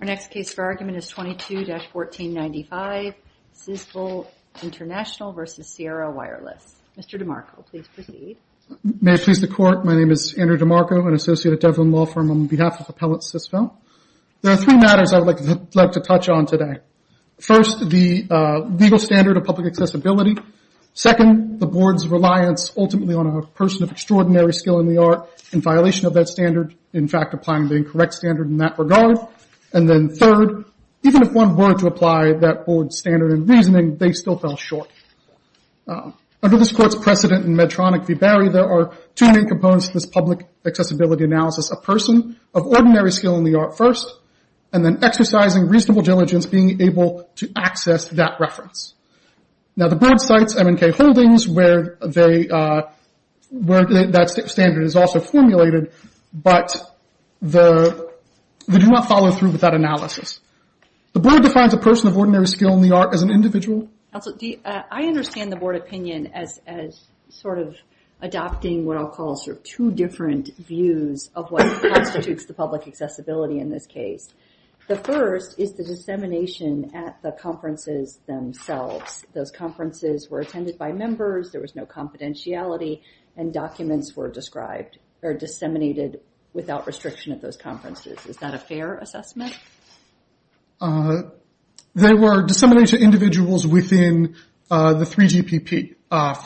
Our next case for argument is 22-1495 Sisvel International S.A. v. Sierra Wireless, Inc. Mr. DeMarco, please proceed. May it please the Court, my name is Andrew DeMarco, an associate at Devlin Law Firm on behalf of Appellate Sisvel. There are three matters I would like to touch on today. First the legal standard of public accessibility. Second the Board's reliance ultimately on a person of extraordinary skill in the art in violation of that standard, in fact applying the incorrect standard in that regard. And then third, even if one were to apply that Board's standard in reasoning, they still fell short. Under this Court's precedent in Medtronic v. Barry, there are two main components to this public accessibility analysis. A person of ordinary skill in the art first, and then exercising reasonable diligence being able to access that reference. Now the Board cites M&K Holdings where that standard is also formulated, but they do not follow through with that analysis. The Board defines a person of ordinary skill in the art as an individual. I understand the Board opinion as sort of adopting what I'll call two different views of what constitutes the public accessibility in this case. The first is the dissemination at the conferences themselves. Those conferences were attended by members, there was no confidentiality, and documents were disseminated without restriction at those conferences. Is that a fair assessment? They were disseminated to individuals within the 3GPP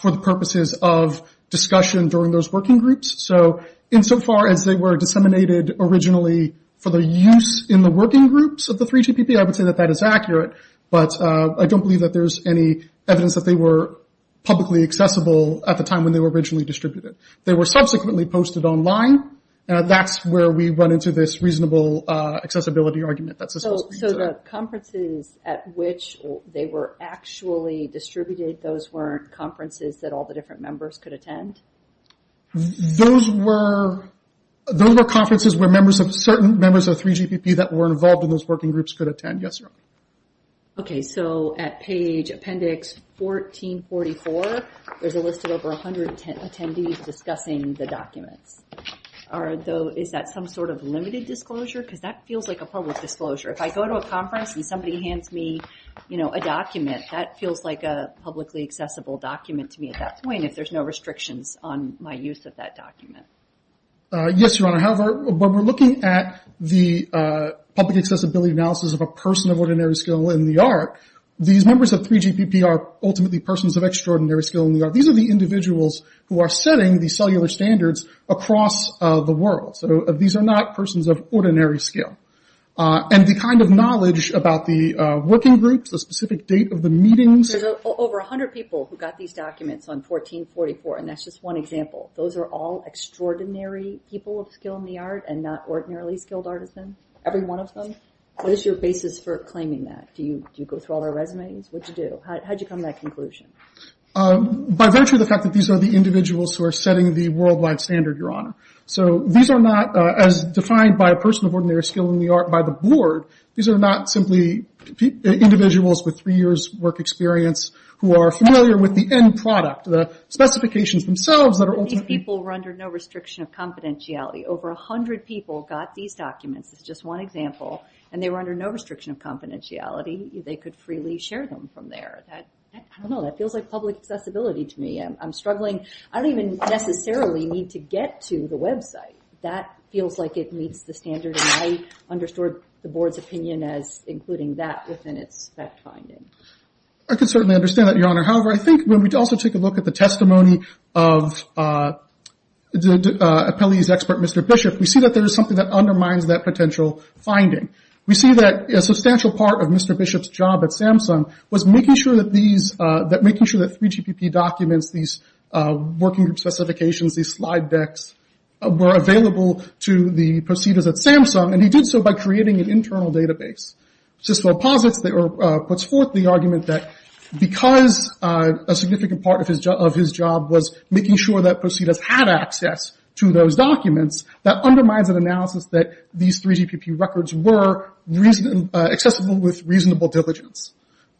for the purposes of discussion during those working groups. So insofar as they were disseminated originally for their use in the working groups of the 3GPP, I would say that that is accurate, but I don't believe that there's any evidence that they were publicly accessible at the time when they were originally distributed. They were subsequently posted online, and that's where we run into this reasonable accessibility argument. So the conferences at which they were actually distributed, those weren't conferences that all the different members could attend? Those were conferences where certain members of the 3GPP that were involved in those working groups could attend, yes. Okay, so at page appendix 1444, there's a list of over 110 attendees discussing the documents. Is that some sort of limited disclosure? Because that feels like a public disclosure. If I go to a conference and somebody hands me a document, that feels like a publicly accessible document to me at that point, if there's no restrictions on my use of that document. Yes, Your Honor. However, when we're looking at the public accessibility analysis of a person of ordinary skill in the art, these members of 3GPP are ultimately persons of extraordinary skill in the art. These are the individuals who are setting the cellular standards across the world. These are not persons of ordinary skill. And the kind of knowledge about the working groups, the specific date of the meetings. There's over 100 people who got these documents on 1444, and that's just one example. Those are all extraordinary people of skill in the art, and not ordinarily skilled artisans. Every one of them. What is your basis for claiming that? Do you go through all their resumes? What did you do? How did you come to that conclusion? By virtue of the fact that these are the individuals who are setting the worldwide standard, Your Honor. So these are not, as defined by a person of ordinary skill in the art by the board, these are not simply individuals with three years' work experience who are familiar with the same product, the specifications themselves that are ultimately... But these people were under no restriction of confidentiality. Over 100 people got these documents, that's just one example, and they were under no restriction of confidentiality. They could freely share them from there. I don't know, that feels like public accessibility to me. I'm struggling. I don't even necessarily need to get to the website. That feels like it meets the standard, and I understood the board's opinion as including that within its fact-finding. I can certainly understand that, Your Honor. However, I think when we also take a look at the testimony of appellee's expert, Mr. Bishop, we see that there is something that undermines that potential finding. We see that a substantial part of Mr. Bishop's job at Samsung was making sure that these, that making sure that 3GPP documents, these working group specifications, these slide decks were available to the proceeders at Samsung, and he did so by creating an internal database. Cicelo posits, puts forth the argument that because a significant part of his job was making sure that proceeders had access to those documents, that undermines an analysis that these 3GPP records were accessible with reasonable diligence.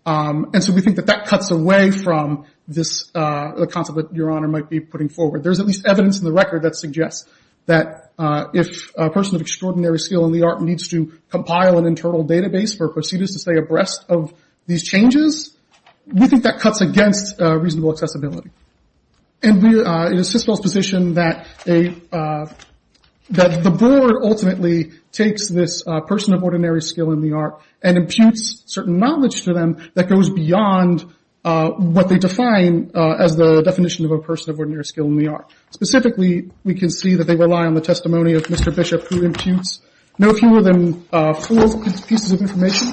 And so we think that that cuts away from this, the concept that Your Honor might be putting forward. There's at least evidence in the record that suggests that if a person of extraordinary skill in the art needs to compile an internal database for proceeders to stay abreast of these changes, we think that cuts against reasonable accessibility. And we, it is Cicelo's position that a, that the board ultimately takes this person of ordinary skill in the art and imputes certain knowledge to them that goes beyond what they define as the definition of a person of ordinary skill in the art. Specifically, we can see that they rely on the testimony of Mr. Bishop who imputes no fewer than four pieces of information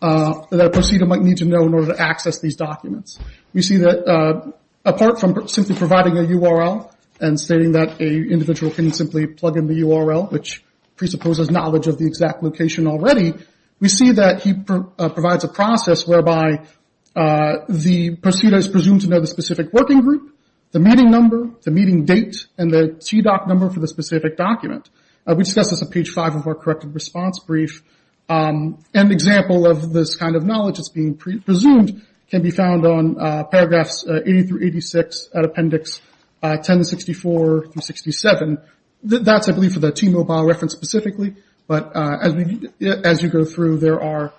that a proceeder might need to know in order to access these documents. We see that apart from simply providing a URL and stating that an individual can simply plug in the URL, which presupposes knowledge of the exact location already, we see that he provides a process whereby the proceeder is presumed to know the specific working group, the meeting number, the meeting date, and the TDOC number for the specific document. We discussed this on page five of our corrected response brief. An example of this kind of knowledge that's being presumed can be found on paragraphs 80 through 86 at appendix 1064 through 67. That's I believe for the T-Mobile reference specifically, but as we, as you go through there are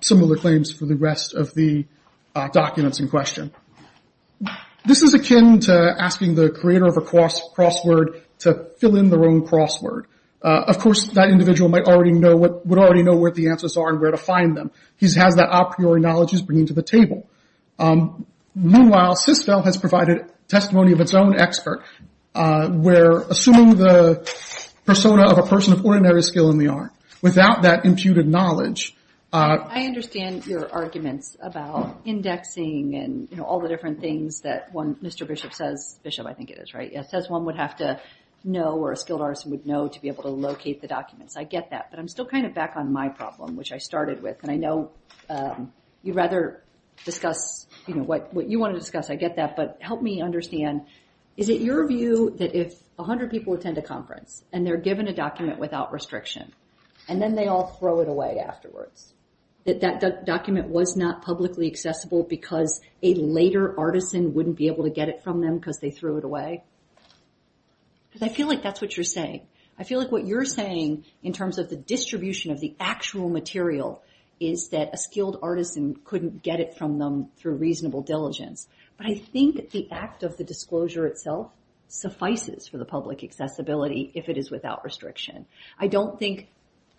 similar claims for the rest of the documents in question. This is akin to asking the creator of a crossword to fill in their own crossword. Of course, that individual might already know, would already know what the answers are and where to find them. He has that a priori knowledge he's bringing to the table. Meanwhile, CISFEL has provided testimony of its own expert where assuming the persona of a person of ordinary skill in the art, without that imputed knowledge. I understand your arguments about indexing and all the different things that one, Mr. Bishop says, Bishop I think it is, right? It says one would have to know or a skilled artist would know to be able to locate the documents. I get that, but I'm still kind of back on my problem, which I started with, and I know you'd rather discuss what you want to discuss. I get that, but help me understand, is it your view that if a hundred people attend a conference and they're given a document without restriction and then they all throw it away afterwards, that that document was not publicly accessible because a later artisan wouldn't be able to get it from them because they threw it away? I feel like that's what you're saying. I feel like what you're saying in terms of the distribution of the actual material is that a skilled artisan couldn't get it from them through reasonable diligence, but I think the act of the disclosure itself suffices for the public accessibility if it is without restriction. I don't think,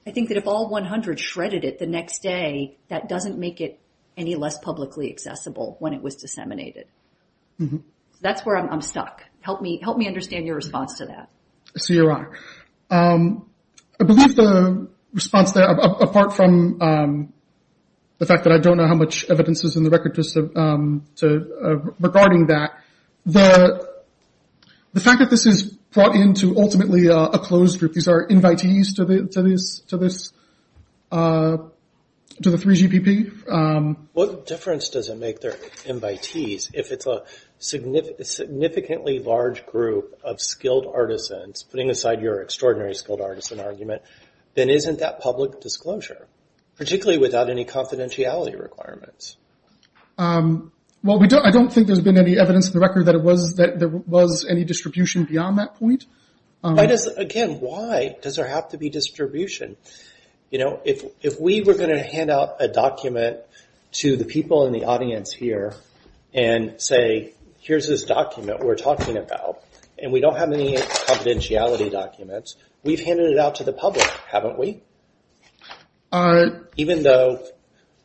I think that if all 100 shredded it the next day, that doesn't make it any less publicly accessible when it was disseminated. That's where I'm stuck. Help me understand your response to that. So you're right. I believe the response there, apart from the fact that I don't know how much evidence is in the record regarding that, the fact that this is brought into ultimately a closed group, these are invitees to this, to the 3GPP. What difference does it make they're invitees if it's a significantly large group of skilled artisans, putting aside your extraordinary skilled artisan argument, then isn't that public disclosure, particularly without any confidentiality requirements? Well, I don't think there's been any evidence in the record that there was any distribution beyond that point. Why does, again, why does there have to be distribution? You know, if we were going to hand out a document to the people in the audience here and say, here's this document we're talking about, and we don't have any confidentiality documents, we've handed it out to the public, haven't we? Even though,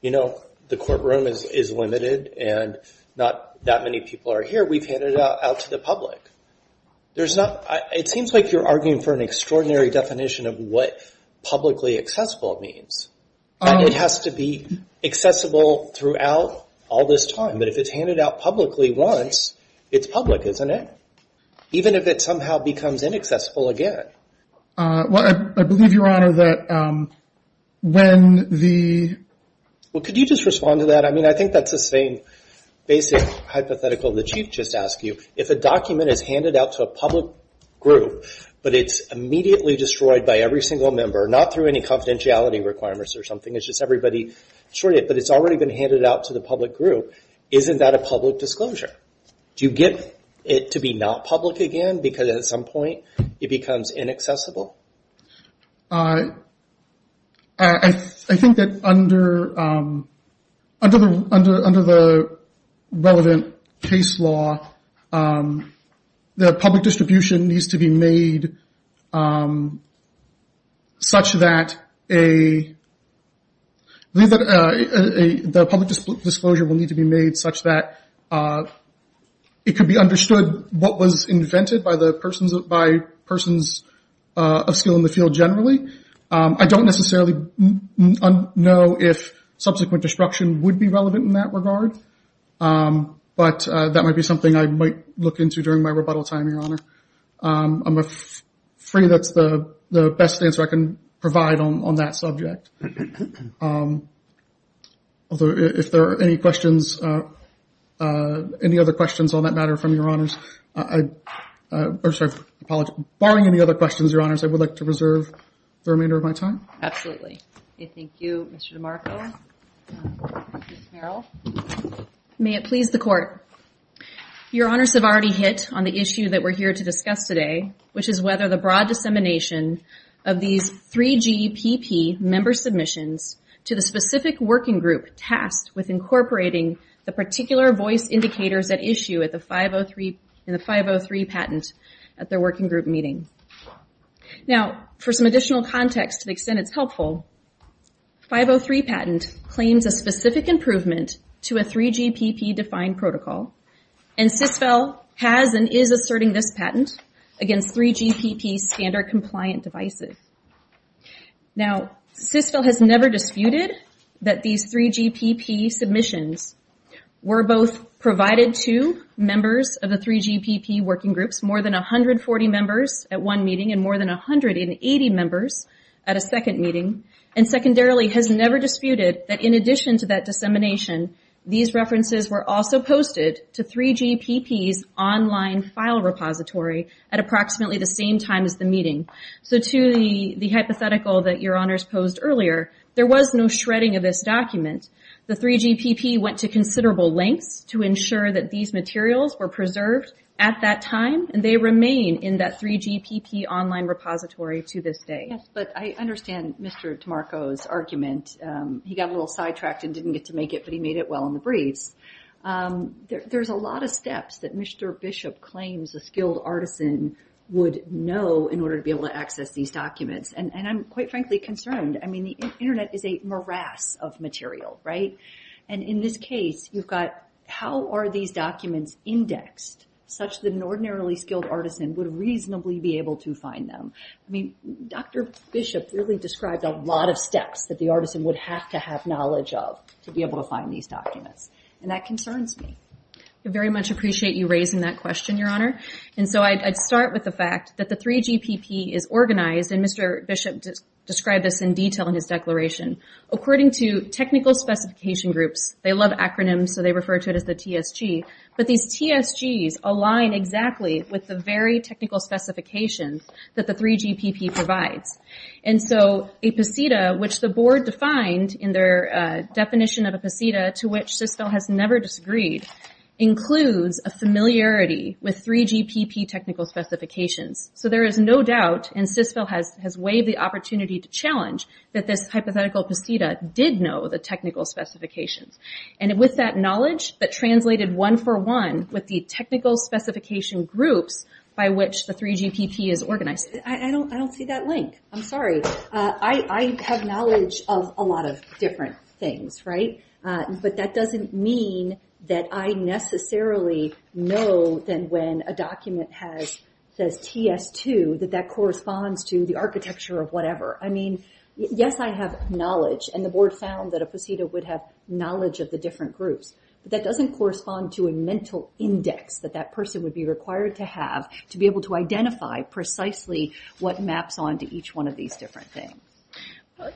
you know, the courtroom is limited and not that many people are here, we've handed it out to the public. There's not, it seems like you're arguing for an extraordinary definition of what publicly accessible means. It has to be accessible throughout all this time, but if it's handed out publicly once, it's public, isn't it? Even if it somehow becomes inaccessible again. Well, I believe, Your Honor, that when the... Well, could you just respond to that? I mean, I think that's the same basic hypothetical that you've just asked you. If a document is handed out to a public group, but it's immediately destroyed by every single member, not through any confidentiality requirements or something, it's just everybody, but it's already been handed out to the public group, isn't that a public disclosure? Do you get it to be not public again, because at some point it becomes inaccessible? Well, I think that under the relevant case law, the public disclosure will need to be made such that it could be understood what was invented by persons of skill in the field generally. I don't necessarily know if subsequent destruction would be relevant in that regard, but that might be something I might look into during my rebuttal time, Your Honor. I'm afraid that's the best answer I can provide on that subject. Although, if there are any questions, any other questions on that matter from Your Honors, or sorry, apologies, barring any other questions, Your Honors, I would like to reserve the remainder of my time. Absolutely. Thank you, Mr. DeMarco. Ms. Merrill. May it please the Court. Your Honors have already hit on the issue that we're here to discuss today, which is rather the broad dissemination of these 3GPP member submissions to the specific working group tasked with incorporating the particular voice indicators at issue in the 503 patent at their working group meeting. Now, for some additional context to the extent it's helpful, 503 patent claims a specific improvement to a 3GPP defined protocol, and CISFEL has and is asserting this patent against 3GPP standard compliant devices. Now, CISFEL has never disputed that these 3GPP submissions were both provided to members of the 3GPP working groups, more than 140 members at one meeting and more than 180 members at a second meeting, and secondarily, has never disputed that in addition to that dissemination, these references were also posted to 3GPP's online file repository at approximately the same time as the meeting. To the hypothetical that Your Honors posed earlier, there was no shredding of this document. The 3GPP went to considerable lengths to ensure that these materials were preserved at that time and they remain in that 3GPP online repository to this day. He got a little sidetracked and didn't get to make it, but he made it well in the briefs. There's a lot of steps that Mr. Bishop claims a skilled artisan would know in order to be able to access these documents, and I'm quite frankly concerned. I mean, the internet is a morass of material, right? And in this case, you've got how are these documents indexed such that an ordinarily skilled artisan would reasonably be able to find them? I mean, Dr. Bishop really described a lot of steps that the artisan would have to have knowledge of to be able to find these documents, and that concerns me. I very much appreciate you raising that question, Your Honor. And so I'd start with the fact that the 3GPP is organized, and Mr. Bishop described this in detail in his declaration. According to technical specification groups, they love acronyms, so they refer to it as the TSG, but these TSGs align exactly with the very technical specifications that the 3GPP provides. And so a PSEDA, which the board defined in their definition of a PSEDA, to which CISVIL has never disagreed, includes a familiarity with 3GPP technical specifications. So there is no doubt, and CISVIL has waived the opportunity to challenge, that this hypothetical PSEDA did know the technical specifications. And with that knowledge, that translated one for one with the technical specification groups by which the 3GPP is organized. I don't see that link. I'm sorry. I have knowledge of a lot of different things, right? But that doesn't mean that I necessarily know then when a document says TS2 that that corresponds to the architecture of whatever. I mean, yes, I have knowledge, and the board found that a PSEDA would have knowledge of the different groups. But that doesn't correspond to a mental index that that person would be required to have to be able to identify precisely what maps on to each one of these different things.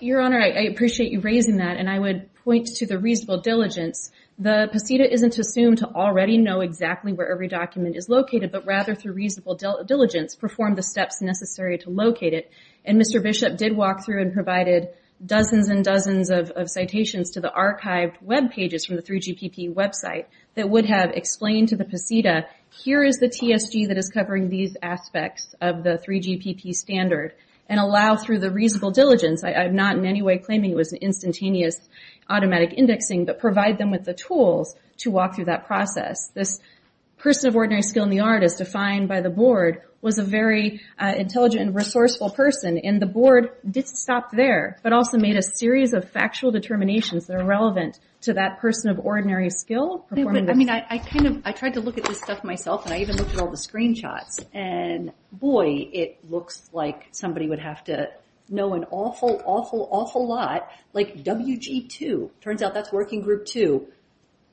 Your Honor, I appreciate you raising that, and I would point to the reasonable diligence. The PSEDA isn't assumed to already know exactly where every document is located, but rather through reasonable diligence, perform the steps necessary to locate it. And Mr. Bishop did walk through and provided dozens and dozens of citations to the archived web pages from the 3GPP website that would have explained to the PSEDA, here is the TSG that is covering these aspects of the 3GPP standard, and allow through the reasonable diligence. I'm not in any way claiming it was instantaneous automatic indexing, but provide them with the tools to walk through that process. This person of ordinary skill in the art, as defined by the board, was a very intelligent and resourceful person, and the board did stop there, but also made a series of factual determinations that are relevant to that person of ordinary skill. I tried to look at this stuff myself, and I even looked at all the screenshots, and boy, it looks like somebody would have to know an awful, awful, awful lot. Like WG2, turns out that's Working Group 2.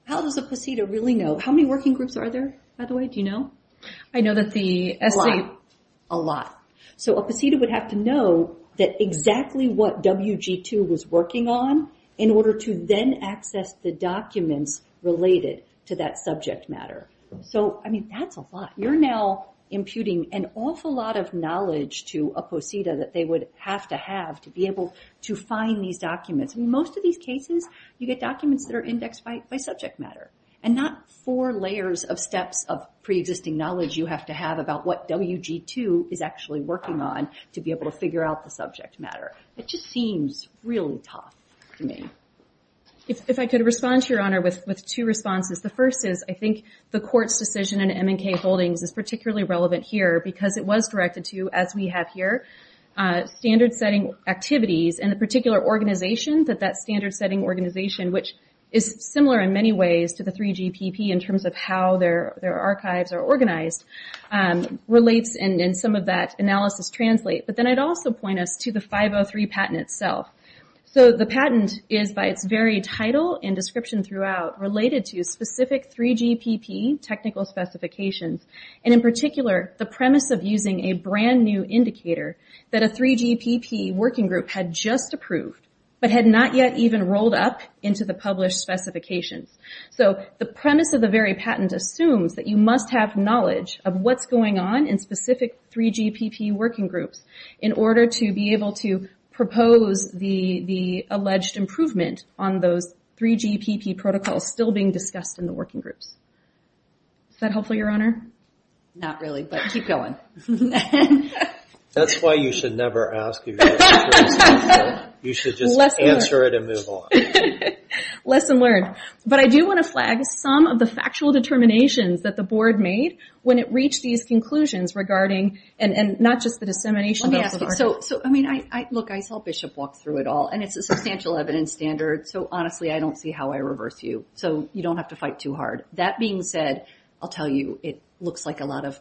How does a PSEDA really know? How many Working Groups are there, by the way, do you know? I know that the... A lot. A lot. So a PSEDA would have to know that exactly what WG2 was working on in order to then access the documents related to that subject matter. So I mean, that's a lot. You're now imputing an awful lot of knowledge to a PSEDA that they would have to have to be able to find these documents. Most of these cases, you get documents that are indexed by subject matter, and not four layers of steps of preexisting knowledge you have to have about what WG2 is actually working on to be able to figure out the subject matter. It just seems really tough to me. If I could respond to your honor with two responses. The first is, I think the court's decision in M&K Holdings is particularly relevant here because it was directed to, as we have here, standard setting activities and the particular organization that that standard setting organization, which is similar in many ways to the 3GPP in terms of how their archives are organized, relates and some of that analysis translate. But then I'd also point us to the 503 patent itself. The patent is, by its very title and description throughout, related to specific 3GPP technical specifications, and in particular, the premise of using a brand new indicator that a 3GPP working group had just approved, but had not yet even rolled up into the published specifications. The premise of the very patent assumes that you must have knowledge of what's going on in specific 3GPP working groups in order to be able to propose the alleged improvement on those 3GPP protocols still being discussed in the working groups. Is that helpful, your honor? Not really, but keep going. That's why you should never ask if you have experience in the field. You should just answer it and move on. Lesson learned. But I do want to flag some of the factual determinations that the board made when it came to its conclusions regarding, and not just the dissemination of the archives. So I mean, look, I saw Bishop walk through it all, and it's a substantial evidence standard, so honestly, I don't see how I reverse you. So you don't have to fight too hard. That being said, I'll tell you, it looks like a lot of,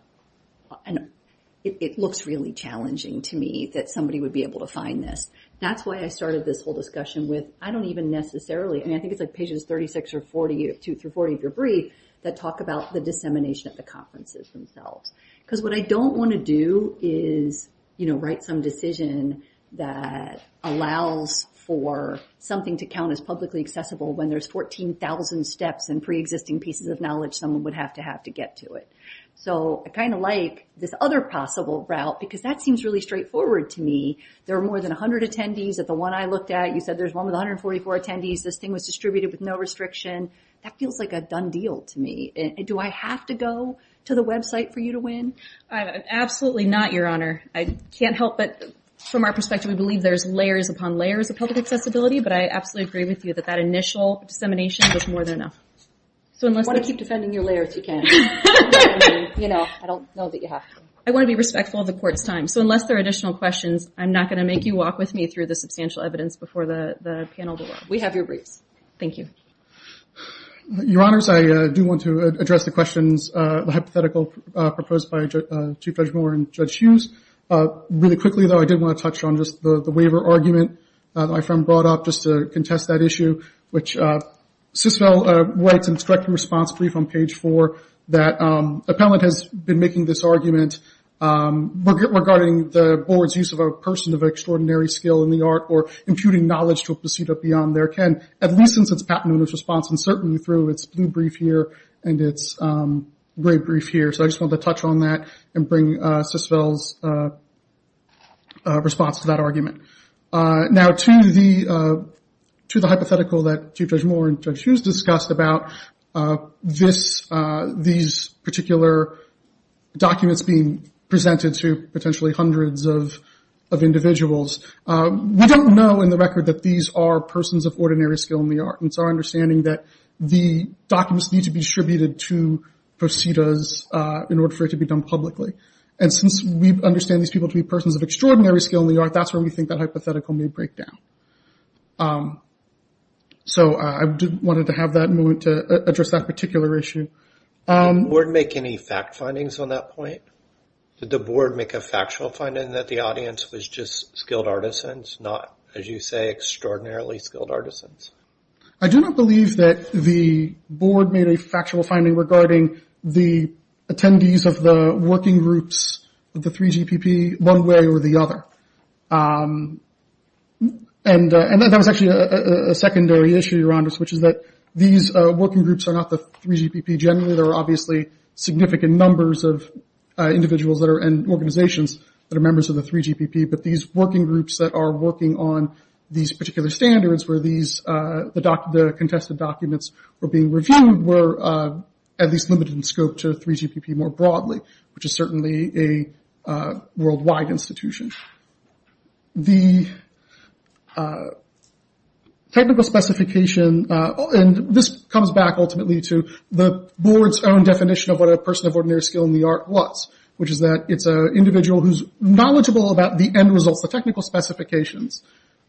it looks really challenging to me that somebody would be able to find this. That's why I started this whole discussion with, I don't even necessarily, I mean, I think it's like pages 36 or 42 through 40 of your brief that talk about the dissemination of the conferences themselves. Because what I don't want to do is write some decision that allows for something to count as publicly accessible when there's 14,000 steps and preexisting pieces of knowledge someone would have to have to get to it. So I kind of like this other possible route, because that seems really straightforward to me. There are more than 100 attendees at the one I looked at. You said there's one with 144 attendees. This thing was distributed with no restriction. That feels like a done deal to me. Do I have to go to the website for you to win? Absolutely not, Your Honor. I can't help it. From our perspective, we believe there's layers upon layers of public accessibility, but I absolutely agree with you that that initial dissemination was more than enough. I want to keep defending your layers, you can't. You know, I don't know that you have to. I want to be respectful of the Court's time. So unless there are additional questions, I'm not going to make you walk with me through the substantial evidence before the panel. We have your briefs. Thank you. Your Honors, I do want to address the questions, the hypothetical proposed by Chief Judge Moore and Judge Hughes. Really quickly, though, I did want to touch on just the waiver argument that my friend brought up just to contest that issue, which Siswell writes in its direct response brief on page four that an appellant has been making this argument regarding the Board's use of a person of extraordinary skill in the art or imputing knowledge to a procedure beyond their ken, at least since it's patented in its response, and certainly through its blue brief here and its gray brief here. So I just wanted to touch on that and bring Siswell's response to that argument. Now to the hypothetical that Chief Judge Moore and Judge Hughes discussed about these particular documents being presented to potentially hundreds of individuals, we don't know in the record that these are persons of ordinary skill in the art. It's our understanding that the documents need to be distributed to proceeders in order for it to be done publicly. Since we understand these people to be persons of extraordinary skill in the art, that's where we think that hypothetical may break down. So I wanted to have that moment to address that particular issue. Did the Board make any fact findings on that point? Did the Board make a factual finding that the audience was just skilled artisans, not, as you say, extraordinarily skilled artisans? I do not believe that the Board made a factual finding regarding the attendees of the working groups of the 3GPP one way or the other. And that was actually a secondary issue around this, which is that these working groups are not the 3GPP generally. There are obviously significant numbers of individuals and organizations that are members of the 3GPP, but these working groups that are working on these particular standards where the contested documents were being reviewed were at least limited in scope to 3GPP more broadly, which is certainly a worldwide institution. The technical specification, and this comes back ultimately to the Board's own definition of what a person of ordinary skill in the art was, which is that it's an individual who's knowledgeable about the end results, the technical specifications.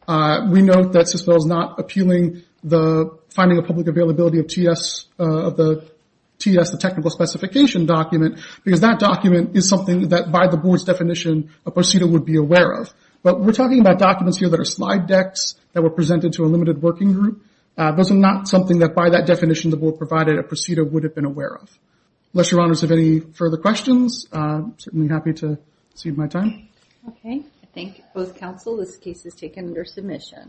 We note that CISPL is not appealing the finding of public availability of TS, the technical specification document, because that document is something that by the Board's definition a procedure would be aware of. But we're talking about documents here that are slide decks that were presented to a limited working group. Those are not something that by that definition the Board provided a procedure would have been aware of. Unless your honors have any further questions, I'm certainly happy to cede my time. Okay. Thank you both counsel. This case is taken under submission.